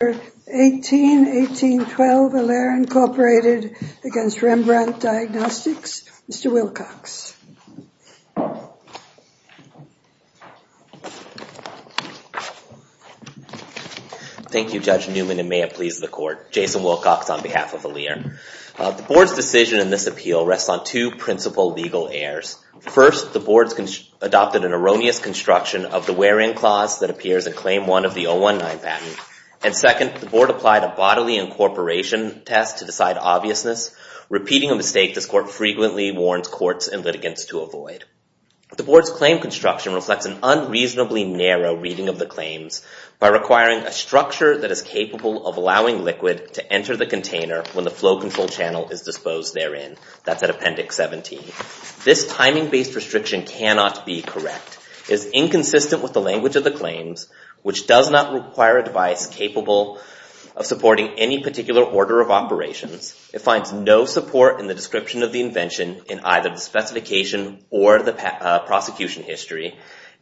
18-18-12, Alere, Inc. v. Rembrandt Diagnostics, Mr. Wilcox. Thank you Judge Newman and may it please the Court. Jason Wilcox on behalf of Alere. The Board's decision in this appeal rests on two principal legal errors. First, the Board adopted an erroneous construction of the wear-in clause that appears in Claim 1 of the 019 Patent, and second, the Board applied a bodily incorporation test to decide obviousness. Repeating a mistake, this Court frequently warns courts and litigants to avoid. The Board's claim construction reflects an unreasonably narrow reading of the claims by requiring a structure that is capable of allowing liquid to enter the container when the flow control channel is disposed therein. That's at Appendix 17. This timing-based restriction cannot be correct. It is inconsistent with the language of the claims, which does not require a device capable of supporting any particular order of operations. It finds no support in the description of the invention in either the specification or the prosecution history,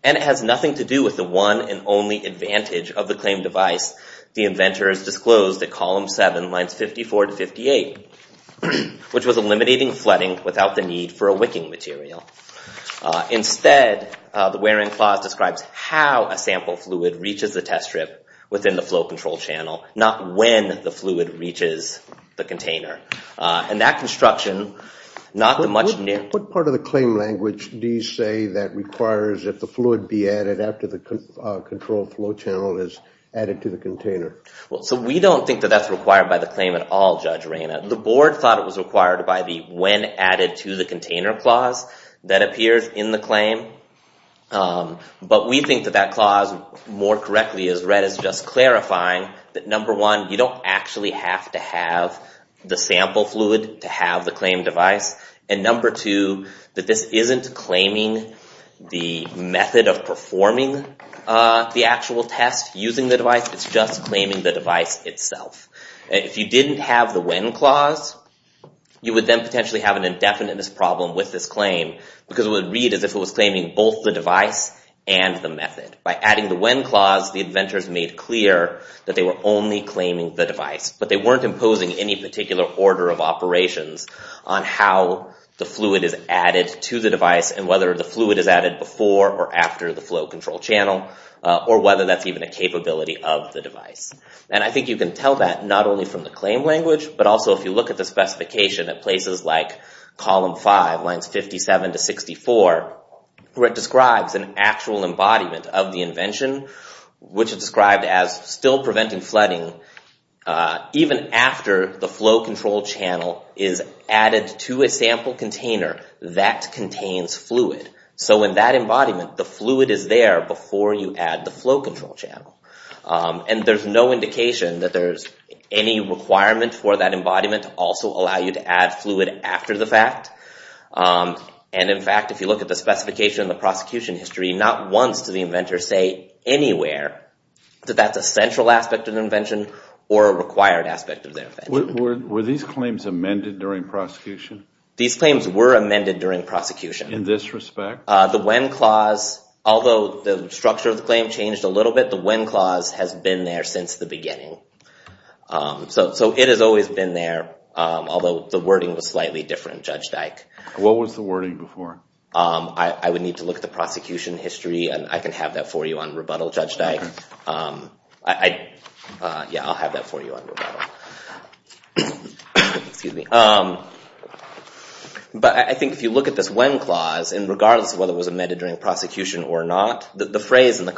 and it has nothing to do with the one and only advantage of the claim device the inventors disclosed at Column 7, Lines 54 to 58, which was eliminating flooding without the need for a wicking material. Instead, the wear-in clause describes how a sample fluid reaches the test strip within the flow control channel, not when the fluid reaches the container. And that construction, not the much-near... What part of the claim language do you say that requires that the fluid be added after the control flow channel is added to the container? Well, so we don't think that that's required by the claim at all, Judge Reina. The Board thought it was required by the when added to the container clause that appears in the claim. But we think that that clause, more correctly as read, is just clarifying that, number one, you don't actually have to have the sample fluid to have the claim device, and number two, that this isn't claiming the method of performing the actual test using the device. It's just claiming the device itself. If you didn't have the when clause, you would then potentially have an indefiniteness problem with this claim, because it would read as if it was claiming both the device and the method. By adding the when clause, the inventors made clear that they were only claiming the device, but they weren't imposing any particular order of operations on how the fluid is added to the device and whether the fluid is added before or after the flow control channel, or whether that's even a capability of the device. And I think you can tell that not only from the claim language, but also if you look at the specification at places like column five, lines 57 to 64, where it describes an actual embodiment of the invention, which is described as still preventing flooding even after the flow control channel is added to a sample container that contains fluid. So in that embodiment, the fluid is there before you add the flow control channel. And there's no indication that there's any requirement for that embodiment to also allow you to add fluid after the fact. And in fact, if you look at the specification in the prosecution history, not once did the inventor say anywhere that that's a central aspect of the invention or a required aspect of the invention. Were these claims amended during prosecution? These claims were amended during prosecution. In this respect? The when clause, although the structure of the claim changed a little bit, the when clause has been there since the beginning. So it has always been there, although the wording was slightly different, Judge Dyke. What was the wording before? I would need to look at the prosecution history, and I can have that for you on rebuttal, Judge Dyke. Yeah, I'll have that for you on rebuttal. Excuse me. But I think if you look at this when clause, and regardless of whether it was amended during prosecution or not, the phrase in the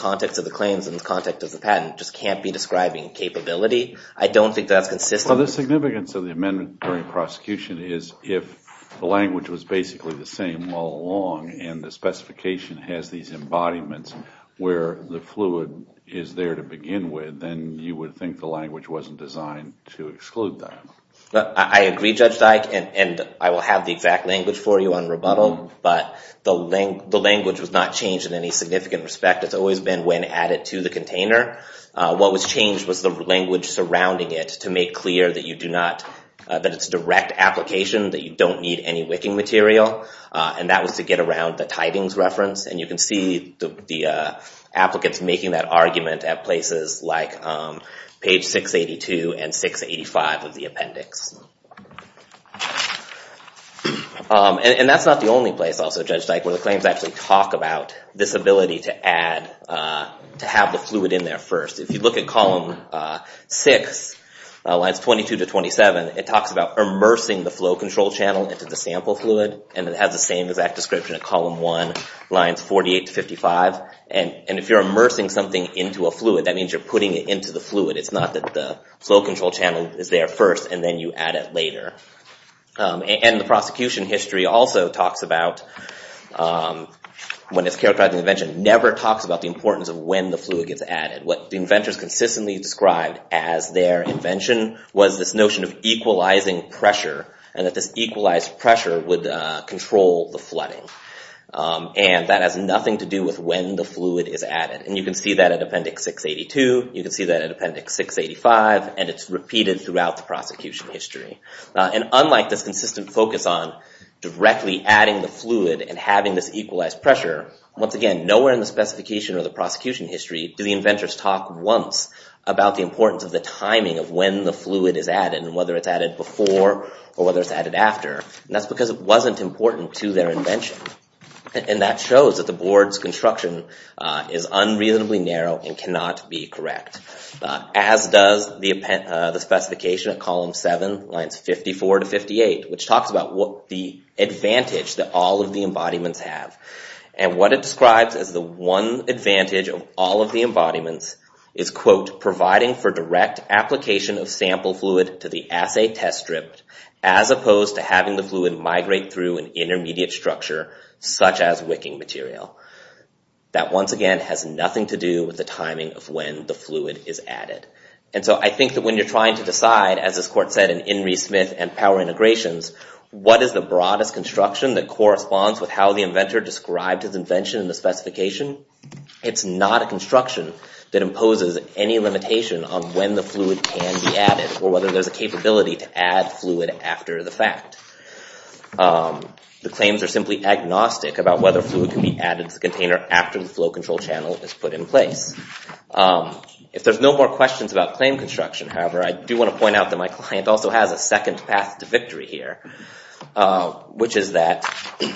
describing capability, I don't think that's consistent. Well, the significance of the amendment during prosecution is if the language was basically the same all along, and the specification has these embodiments where the fluid is there to begin with, then you would think the language wasn't designed to exclude that. I agree, Judge Dyke, and I will have the exact language for you on rebuttal. But the language was not changed in any significant respect. It's always been when added to the container. What was changed was the language surrounding it to make clear that it's direct application, that you don't need any wicking material. And that was to get around the tidings reference. And you can see the applicants making that argument at places like page 682 and 685 of the appendix. And that's not the only place also, Judge Dyke, where the claims actually talk about this ability to add, to have the fluid in there first. If you look at column 6, lines 22 to 27, it talks about immersing the flow control channel into the sample fluid. And it has the same exact description at column 1, lines 48 to 55. And if you're immersing something into a fluid, that means you're putting it into the fluid. It's not that the flow control channel is there first, and then you add it later. And the prosecution history also talks about, when it's characterized as an invention, never talks about the importance of when the fluid gets added. What the inventors consistently described as their invention was this notion of equalizing pressure, and that this equalized pressure would control the flooding. And that has nothing to do with when the fluid is added. And you can see that at appendix 682. You can see that at appendix 685. And it's repeated throughout the prosecution history. And unlike this consistent focus on directly adding the fluid and having this equalized pressure, once again, nowhere in the specification or the prosecution history do the inventors talk once about the importance of the timing of when the fluid is added, and whether it's added before or whether it's added after. And that's because it wasn't important to their invention. And that shows that the board's construction is unreasonably narrow and cannot be correct, as does the specification at column 7, lines 54 to 58, which talks about the advantage that all of the embodiments have. And what it describes as the one advantage of all of the embodiments is, quote, providing for direct application of sample fluid to the assay test strip, as opposed to having the fluid migrate through an intermediate structure, such as wicking material. That, once again, has nothing to do with the timing of when the fluid is added. And so I think that when you're trying to decide, as this court said in Inree Smith and Power Integrations, what is the broadest construction that corresponds with how the inventor described his invention in the specification, it's not a construction that imposes any limitation on when the fluid can be added, or whether there's a capability to add fluid after the fact. The claims are simply agnostic about whether fluid can be added to the container after the flow control channel is put in place. If there's no more questions about claim construction, however, I do want to point out that my client also has a second path to victory here, which is that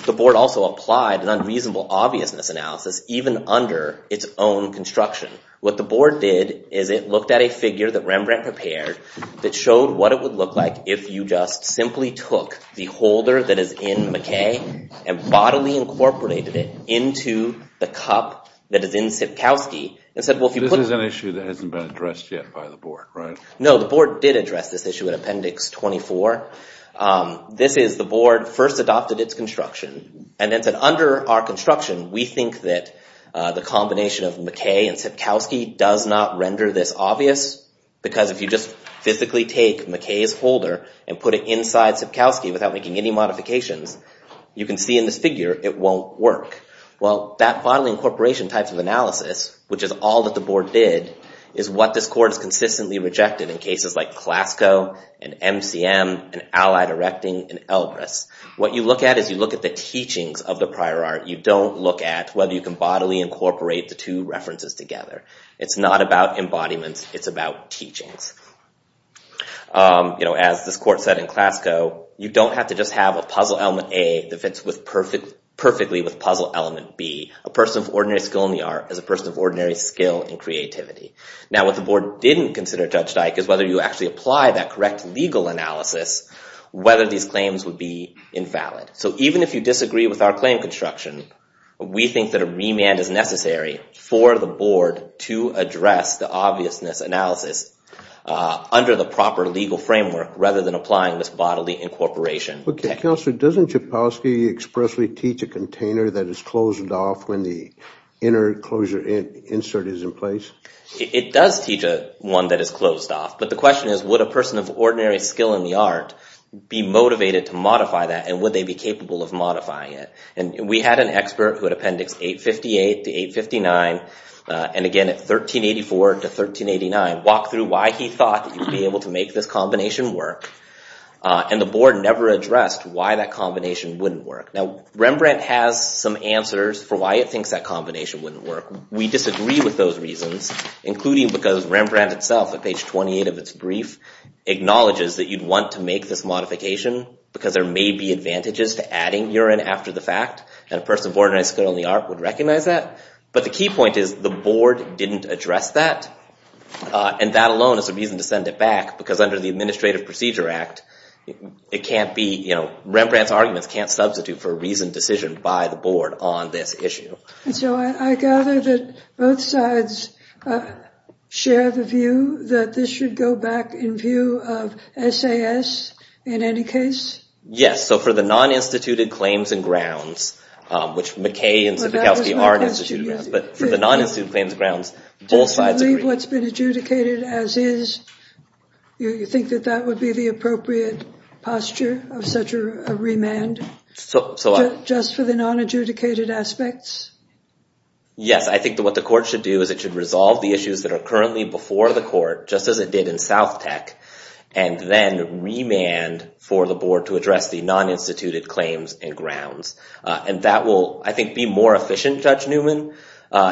the board also applied an unreasonable obviousness analysis even under its own construction. What the board did is it looked at a figure that Rembrandt prepared that showed what it would look like if you just simply took the holder that is in McKay and bodily incorporated it into the cup that is in Sipkowski and said, well, if you put... This is an issue that hasn't been addressed yet by the board, right? No, the board did address this issue in Appendix 24. This is the board first adopted its construction and then said, under our construction, we think that the combination of McKay and Sipkowski does not render this obvious because if you just physically take McKay's holder and put it inside Sipkowski without making any modifications, you can see in this figure it won't work. Well, that bodily incorporation type of analysis, which is all that the board did, is what this court has consistently rejected in cases like Clasco and MCM and Allied Erecting and Elgris. What you look at is you look at the teachings of the prior art. You don't look at whether you can bodily incorporate the two references together. It's not about embodiments, it's about teachings. As this court said in Clasco, you don't have to just have a puzzle element A that fits perfectly with puzzle element B. A person of ordinary skill in the art is a person of ordinary skill in creativity. Now, what the board didn't consider, Judge Dike, is whether you actually apply that correct legal analysis, whether these claims would be invalid. So even if you disagree with our claim construction, we think that a remand is necessary for the board to address the obviousness analysis under the proper legal framework rather than applying this bodily incorporation. Counselor, doesn't Sipkowski expressly teach a container that is closed off when the inner closure insert is in place? It does teach one that is closed off, but the question is would a person of ordinary skill in the art, would they be capable of modifying it? And we had an expert who at Appendix 858 to 859, and again at 1384 to 1389, walk through why he thought that you'd be able to make this combination work, and the board never addressed why that combination wouldn't work. Now, Rembrandt has some answers for why it thinks that combination wouldn't work. We disagree with those reasons, including because Rembrandt itself, at page 28 of its brief, acknowledges that you'd want to make this modification because there may be advantages to adding urine after the fact, and a person of ordinary skill in the art would recognize that. But the key point is the board didn't address that, and that alone is a reason to send it back because under the Administrative Procedure Act, Rembrandt's arguments can't substitute for a reasoned decision by the board on this issue. And so I gather that both sides share the view that this should go back in view of SAS in any case? Yes, so for the non-instituted claims and grounds, which McKay and Sipikowsky are instituted, but for the non-instituted claims grounds, both sides agree. To believe what's been adjudicated as is, you think that that would be the appropriate posture of such a remand? So just for the non-adjudicated aspects? Yes, I think that what the court should do is it should resolve the issues that are currently before the court, just as it did in South Tech, and then remand for the board to address the non-instituted claims and grounds. And that will, I think, be more efficient, Judge Newman,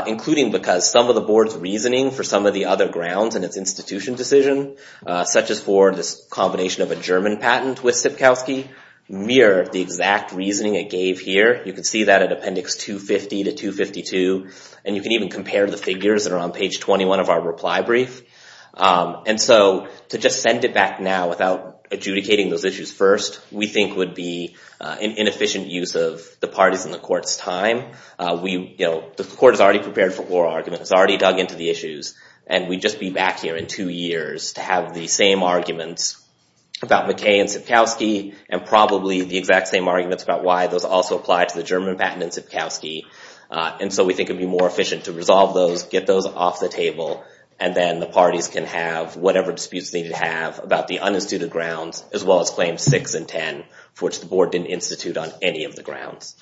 including because some of the board's reasoning for some of the other grounds in its institution decision, such as for this combination of a German patent with Sipikowsky, mirrored the exact reasoning it gave here. You can see that at appendix 250 to 252. And you can even compare the figures that are on page 21 of our reply brief. And so to just send it back now without adjudicating those issues first, we think would be an inefficient use of the parties in the court's time. The court is already prepared for oral arguments. It's already dug into the issues. And we'd just be back here in two years to have the same arguments about McKay and Sipikowsky, and probably the exact same arguments about why those also apply to the German patent and Sipikowsky. And so we think it'd be more efficient to resolve those, get those off the table, and then the parties can have whatever disputes they need to have about the uninstituted grounds, as well as claims 6 and 10, for which the board didn't institute on any of the grounds.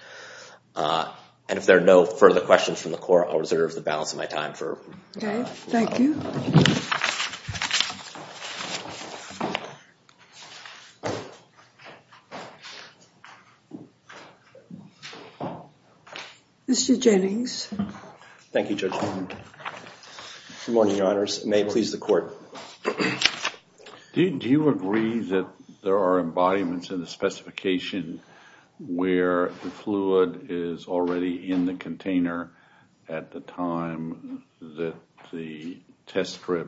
And if there are no further questions from the court, I'll reserve the balance of my time. Thank you. Mr. Jennings. Thank you, Judge. Good morning, Your Honors. May it please the court. Do you agree that there are embodiments in the specification where the fluid is already in the container at the time that the test strip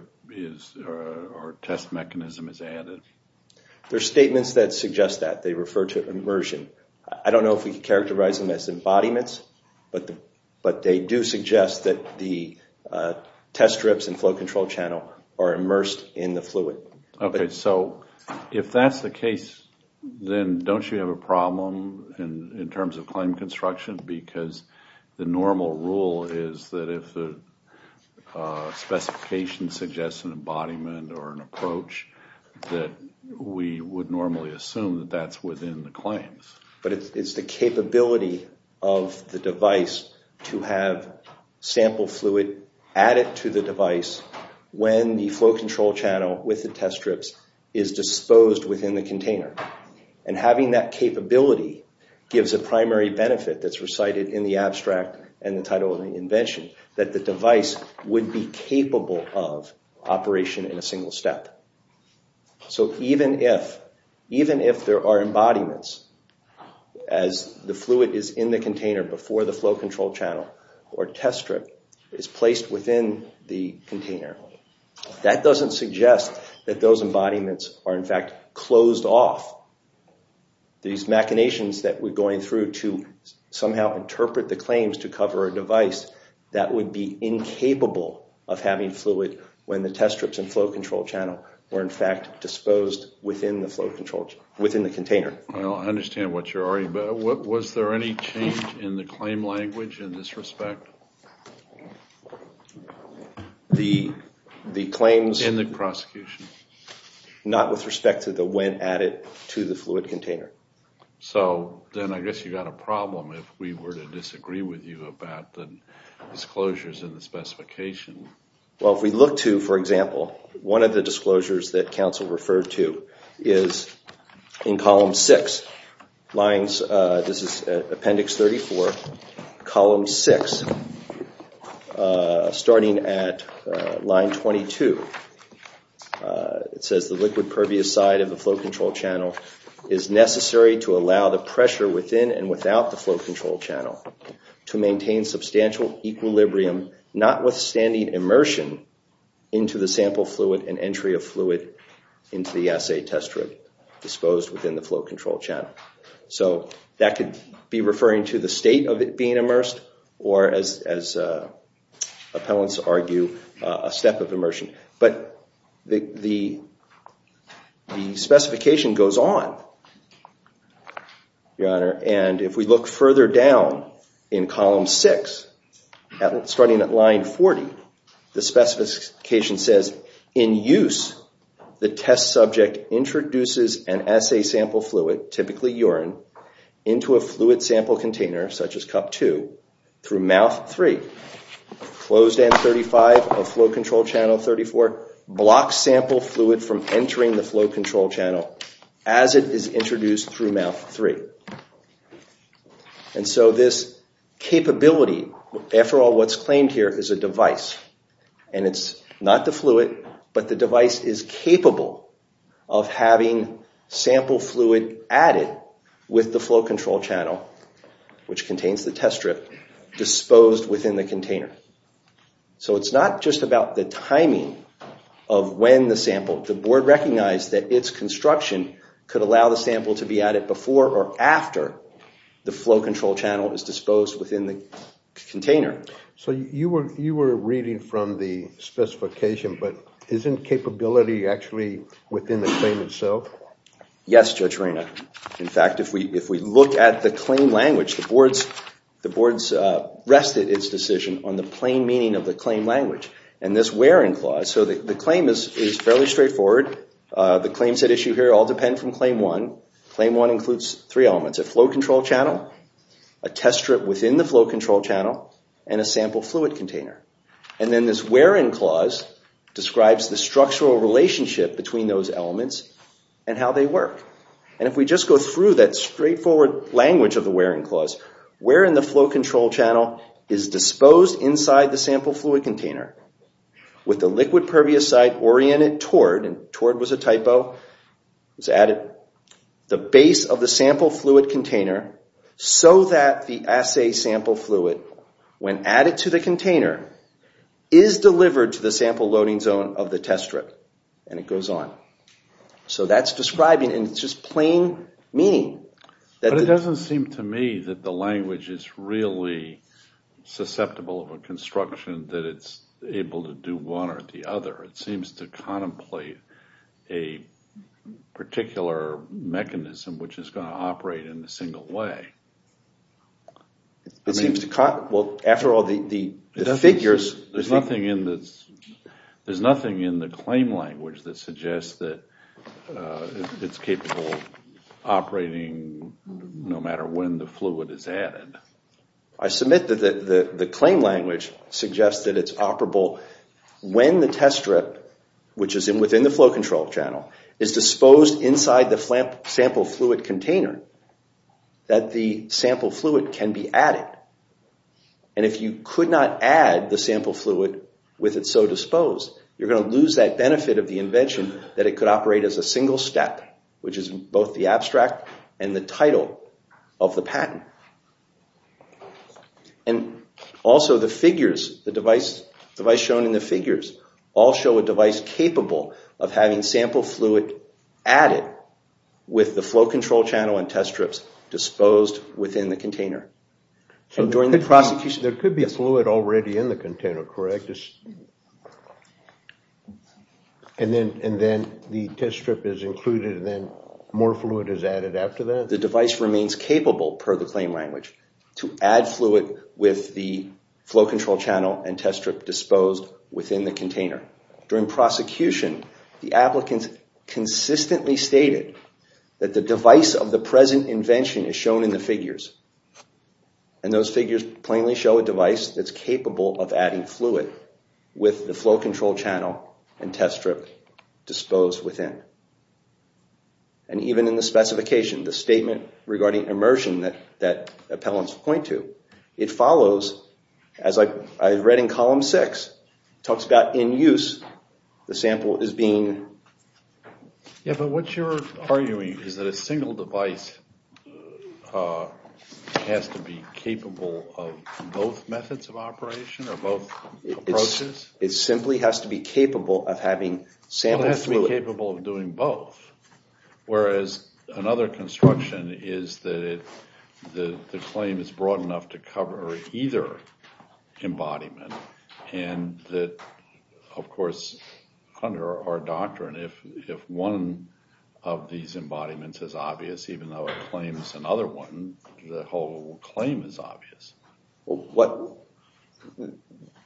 or test mechanism is added? There are statements that suggest that. They refer to immersion. I don't know if we can characterize them as embodiments, but they do suggest that the test strips and flow control channel are immersed in the fluid. Okay. So if that's the case, then don't you have a problem in terms of claim construction? Because the normal rule is that if the specification suggests an embodiment or an approach, that we would normally assume that that's within the claims. But it's the capability of the device to have sample fluid added to the and having that capability gives a primary benefit that's recited in the abstract and the title of the invention, that the device would be capable of operation in a single step. So even if there are embodiments as the fluid is in the container before the flow control channel or test strip is placed within the container, that doesn't suggest that those embodiments are in fact closed off. These machinations that we're going through to somehow interpret the claims to cover a device, that would be incapable of having fluid when the test strips and flow control channel were in fact disposed within the container. I understand what you're arguing, but was there any change in the claim language in this respect? The claims in the prosecution? Not with respect to the when added to the fluid container. So then I guess you got a problem if we were to disagree with you about the disclosures in the specification. Well if we look to, for example, one of the disclosures that counsel referred to is in column six. This is appendix 34, column six, starting at line 22. It says the liquid pervious side of the flow control channel is necessary to allow the pressure within and without the flow control channel to maintain substantial equilibrium, notwithstanding immersion into the sample fluid and entry of fluid into the assay test strip disposed within the flow control channel. So that could be referring to the state of it being immersed or as appellants argue, a step of immersion. But the specification goes on, your honor, and if we look further down in column six, starting at line 40, the specification says in use the test subject introduces an assay sample fluid, typically urine, into a fluid sample container such as cup two through mouth three. Closed end 35 of flow control channel 34 blocks sample fluid from entering the flow control channel as it is introduced through mouth three. And so this capability, after all what's claimed here is a device and it's not the fluid but the device is capable of having sample fluid added with the flow control channel which contains the test strip disposed within the container. So it's not just about the timing of when the sample, the board recognized that its construction could allow the sample to be added before or after the flow control channel is disposed within the container. So you were reading from the specification but isn't capability actually within the claim itself? Yes, Judge Arena. In fact, if we look at the claim language, the board's rested its decision on the plain meaning of the claim language. And this wearing clause, so the claim is fairly straightforward. The claims at issue here all depend from claim one. Claim one includes three elements, a flow control channel, a test strip within the flow control channel, and a sample fluid container. And then this wearing clause describes the structural relationship between those elements and how they work. And if we just go through that straightforward language of the wearing clause, where in the flow control channel is disposed inside the sample fluid container with the liquid pervious site oriented toward, and toward was a typo, was added the base of the sample fluid container so that the assay sample fluid, when added to the container, is delivered to the sample loading zone of the test strip. And it goes on. So that's describing and it's just plain meaning. But it doesn't seem to me that the language is really susceptible of a construction that it's able to do one or the other. It seems to contemplate a particular mechanism which is going to operate in a single way. It seems to, well after all the figures. There's nothing in this, there's nothing in the claim language that suggests that it's capable of operating no matter when the fluid is added. I submit that the claim language suggests that it's operable when the test strip, which is within the flow control channel, is disposed inside the sample fluid container, that the sample fluid can be added. And if you could not add the sample fluid with it so disposed, you're going to lose that benefit of the invention that it could operate as a single step, which is both the abstract and the title of the patent. And also the figures, the device shown in the figures, all show a device capable of having sample fluid added with the flow control channel and test strips disposed within the container. There could be fluid already in the container, correct? And then the test strip is included and then more fluid is added after that? The device remains capable, per the claim language, to add fluid with the flow control channel and test strip disposed within the container. During prosecution, the applicants consistently stated that the device of the present invention is shown in the figures. And those figures plainly show a device that's capable of adding fluid with the flow control channel and test strip disposed within. And even in the specification, the statement regarding immersion that appellants point to, it follows, as I read in column six, talks about in use, the sample is being... But what you're arguing is that a single device has to be capable of both methods of operation or both approaches? It simply has to be capable of having sample fluid... It has to be capable of doing both, whereas another construction is that the claim is of these embodiments is obvious, even though it claims another one, the whole claim is obvious.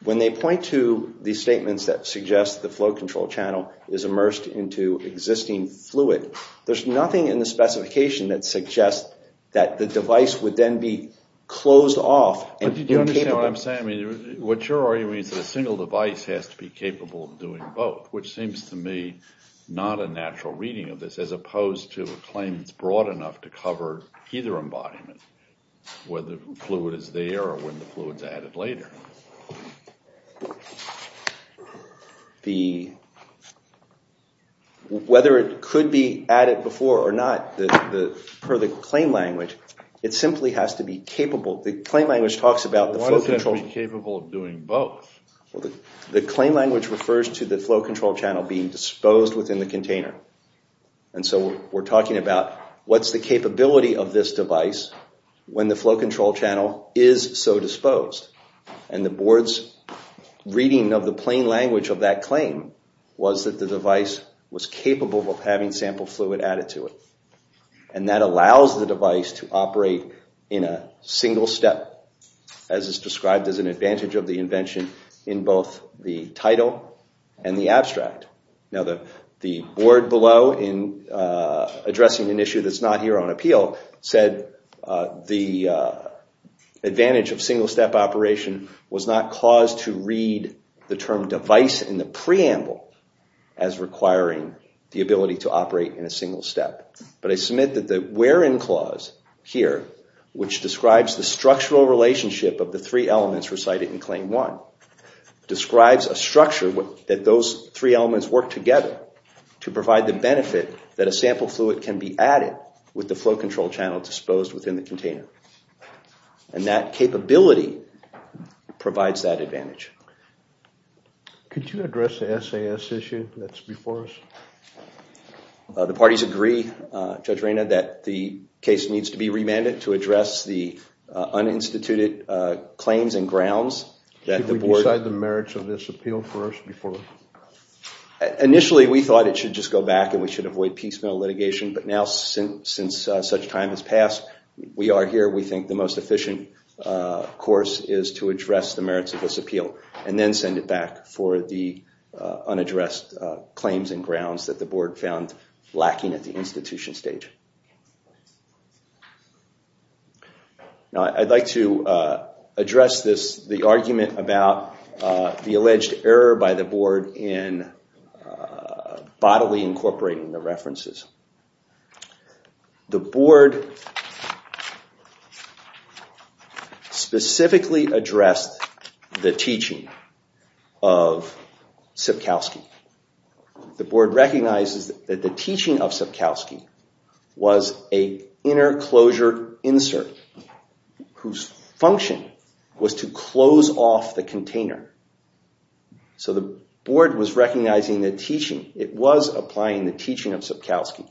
When they point to these statements that suggest the flow control channel is immersed into existing fluid, there's nothing in the specification that suggests that the device would then be closed off... But do you understand what I'm saying? What you're arguing is that a single device has to be capable of doing both, which seems to me not a natural reading of this, as opposed to a claim that's broad enough to cover either embodiment, whether fluid is there or when the fluid's added later. Whether it could be added before or not, per the claim language, it simply has to be capable... The claim language talks about the flow control... Why doesn't it be capable of doing both? Well, the claim language refers to the flow control channel being disposed within the container, and so we're talking about what's the capability of this device when the flow control channel is so disposed? And the board's reading of the plain language of that claim was that the device was capable of having sample fluid added to it, and that allows the device to operate in a single step, as is described as an advantage of the invention in both the title and the abstract. Now, the board below, in addressing an issue that's not here on appeal, said the advantage of single-step operation was not caused to read the term device in the preamble as requiring the ability to operate in a single step. But I submit that the where-in clause here, which describes the structural relationship of the three elements recited in Claim 1, describes a structure that those three elements work together to provide the benefit that a sample fluid can be added with the flow control channel disposed within the container. And that capability provides that advantage. Could you address the SAS issue that's before us? The parties agree, Judge Reyna, that the case needs to be remanded to address the uninstituted claims and grounds that the board— Could we decide the merits of this appeal first before— Initially, we thought it should just go back and we should avoid piecemeal litigation. But now, since such time has passed, we are here. We think the most efficient course is to address the merits of this appeal and then send it for the unaddressed claims and grounds that the board found lacking at the institution stage. Now, I'd like to address the argument about the alleged error by the board in bodily incorporating the references. The board specifically addressed the teaching of Sipkowski. The board recognizes that the teaching of Sipkowski was an interclosure insert whose function was to close off the container. So the board was recognizing the teaching. It was applying the teaching of Sipkowski.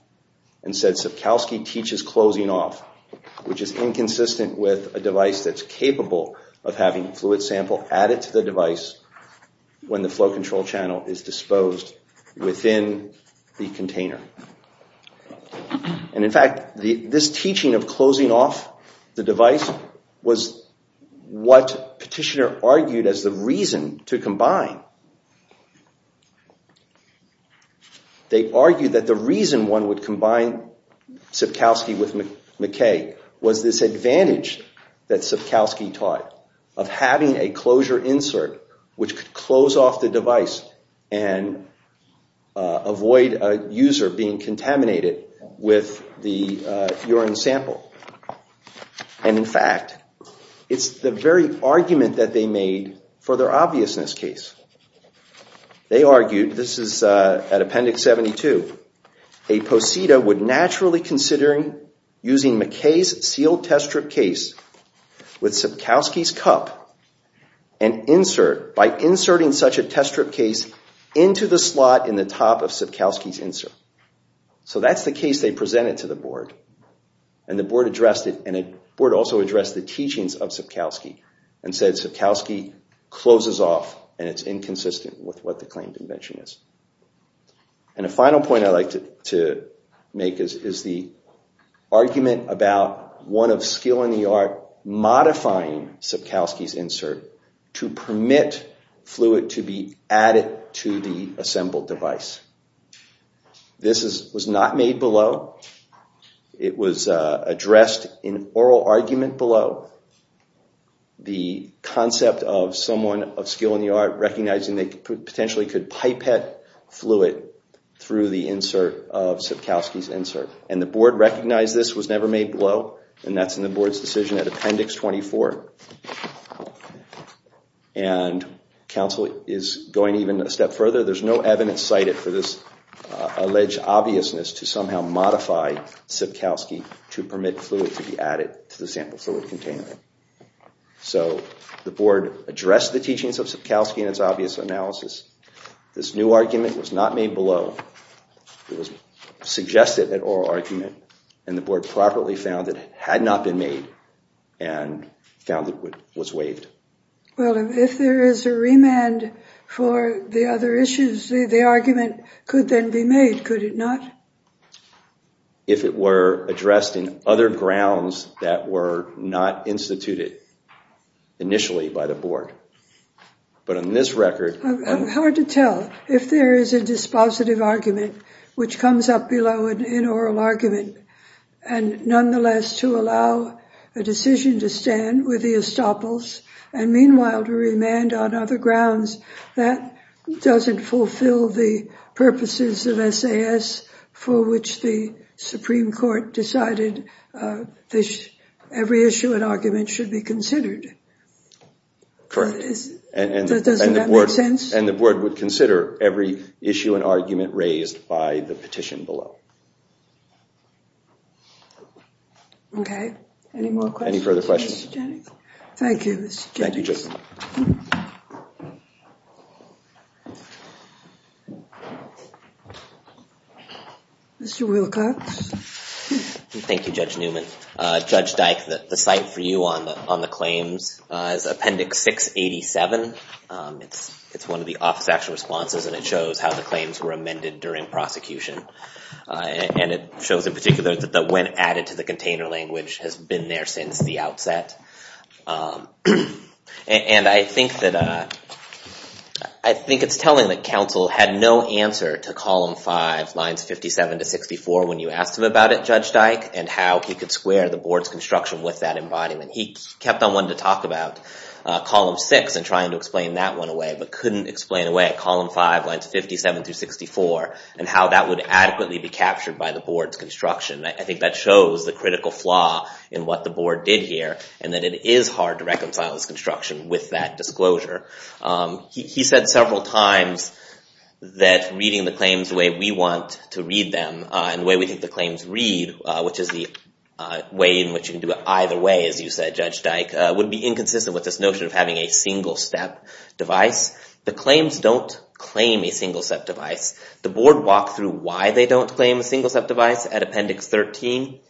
And said, Sipkowski teaches closing off, which is inconsistent with a device that's capable of having fluid sample added to the device when the flow control channel is disposed within the container. And in fact, this teaching of closing off the device was what Petitioner argued as the reason to combine. They argued that the reason one would combine Sipkowski with McKay was this advantage that Sipkowski taught of having a closure insert which could close off the device and avoid a user being contaminated with the urine sample. And in fact, it's the very argument that they made for their obviousness case. They argued, this is at Appendix 72, a posita would naturally considering using McKay's sealed test strip case with Sipkowski's cup and insert by inserting such a test strip case into the slot in the top of Sipkowski's insert. So that's the case they presented to the board. And the board addressed it. And the board also addressed the teachings of Sipkowski and said, Sipkowski closes off and it's inconsistent with what the claimed invention is. And a final point I'd like to make is the argument about one of skill in the art modifying Sipkowski's insert to permit fluid to be added to the assembled device. This was not made below. It was addressed in oral argument below. The concept of someone of skill in the art recognizing they potentially could pipette fluid through the insert of Sipkowski's insert. And the board recognized this was never made below. And that's in the board's decision at Appendix 24. And counsel is going even a step further. There's no evidence cited for this alleged obviousness to somehow modify Sipkowski to the argument. So the board addressed the teachings of Sipkowski in its obvious analysis. This new argument was not made below. It was suggested at oral argument. And the board properly found that it had not been made and found that it was waived. Well, if there is a remand for the other issues, the argument could then be made, could it not? If it were addressed in other grounds that were not instituted initially by the board. But on this record... It's hard to tell if there is a dispositive argument which comes up below an in oral argument and nonetheless to allow a decision to stand with the estoppels and meanwhile to remand on other grounds. That doesn't fulfill the purposes of SAS for which the Supreme Court decided every issue and argument should be considered. Correct. Doesn't that make sense? And the board would consider every issue and argument raised by the petition below. Any more questions? Any further questions? Thank you, Mr. Jennings. Thank you, Justice. Thank you, Judge Newman. Judge Dyke, the site for you on the claims is Appendix 687. It's one of the office action responses and it shows how the claims were amended during prosecution. And it shows in particular that the when added to the container language has been there since the outset. And I think it's telling that counsel had no answer to Column 5, Lines 57 to 64 when you asked him about it, Judge Dyke, and how he could square the board's construction with that embodiment. He kept on wanting to talk about Column 6 and trying to explain that one away but couldn't explain away at Column 5, Lines 57 through 64 and how that would adequately be captured by the board's construction. I think that shows the critical flaw in what the board did here. And that it is hard to reconcile this construction with that disclosure. He said several times that reading the claims the way we want to read them and the way we think the claims read, which is the way in which you can do it either way, as you said, Judge Dyke, would be inconsistent with this notion of having a single step device. The claims don't claim a single step device. The board walked through why they don't claim a single step device at Appendix 13,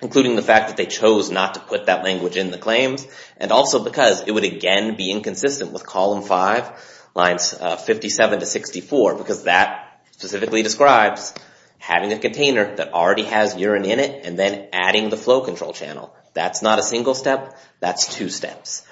including the fact that they chose not to put that language in the claims, and also because it would, again, be inconsistent with Column 5, Lines 57 to 64, because that specifically describes having a container that already has urine in it and then adding the flow control channel. That's not a single step. That's two steps.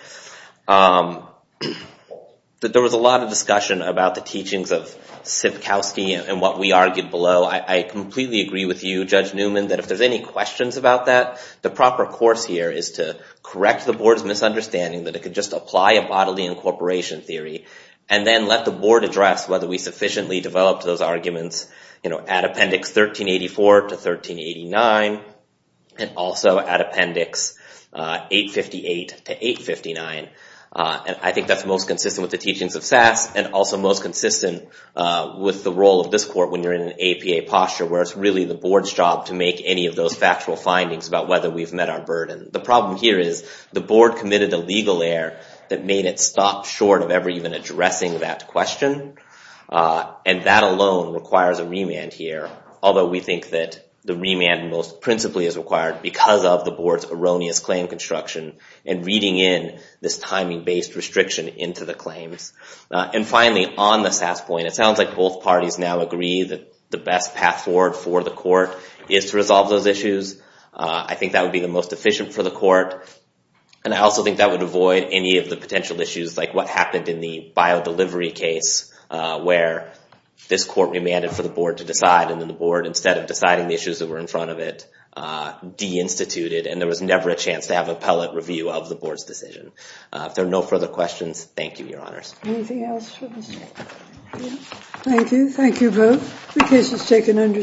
There was a lot of discussion about the teachings of Sivkowski and what we argued below. I completely agree with you, Judge Newman, that if there's any questions about that, the proper course here is to correct the board's misunderstanding that it could just apply a bodily incorporation theory, and then let the board address whether we sufficiently developed those arguments at Appendix 1384 to 1389, and also at Appendix 858 to 859. And I think that's most consistent with the teachings of SAS, and also most consistent with the role of this court when you're in an APA posture, where it's really the board's job to make any of those factual findings about whether we've met our burden. The problem here is the board committed a legal error that made it stop short of ever even addressing that question, and that alone requires a remand here, although we think that the remand most principally is required because of the board's erroneous claim construction and reading in this timing-based restriction into the claims. And finally, on the SAS point, it sounds like both parties now agree that the best path forward for the court is to resolve those issues. I think that would be the most efficient for the court, and I also think that would avoid any of the potential issues like what happened in the bio-delivery case, where this court remanded for the board to decide, and then the board, instead of deciding the issues that were in front of it, de-instituted, and there was never a chance to have appellate review of the board's decision. If there are no further questions, thank you, your honors. Anything else? Thank you. Thank you both. The case is taken under submission.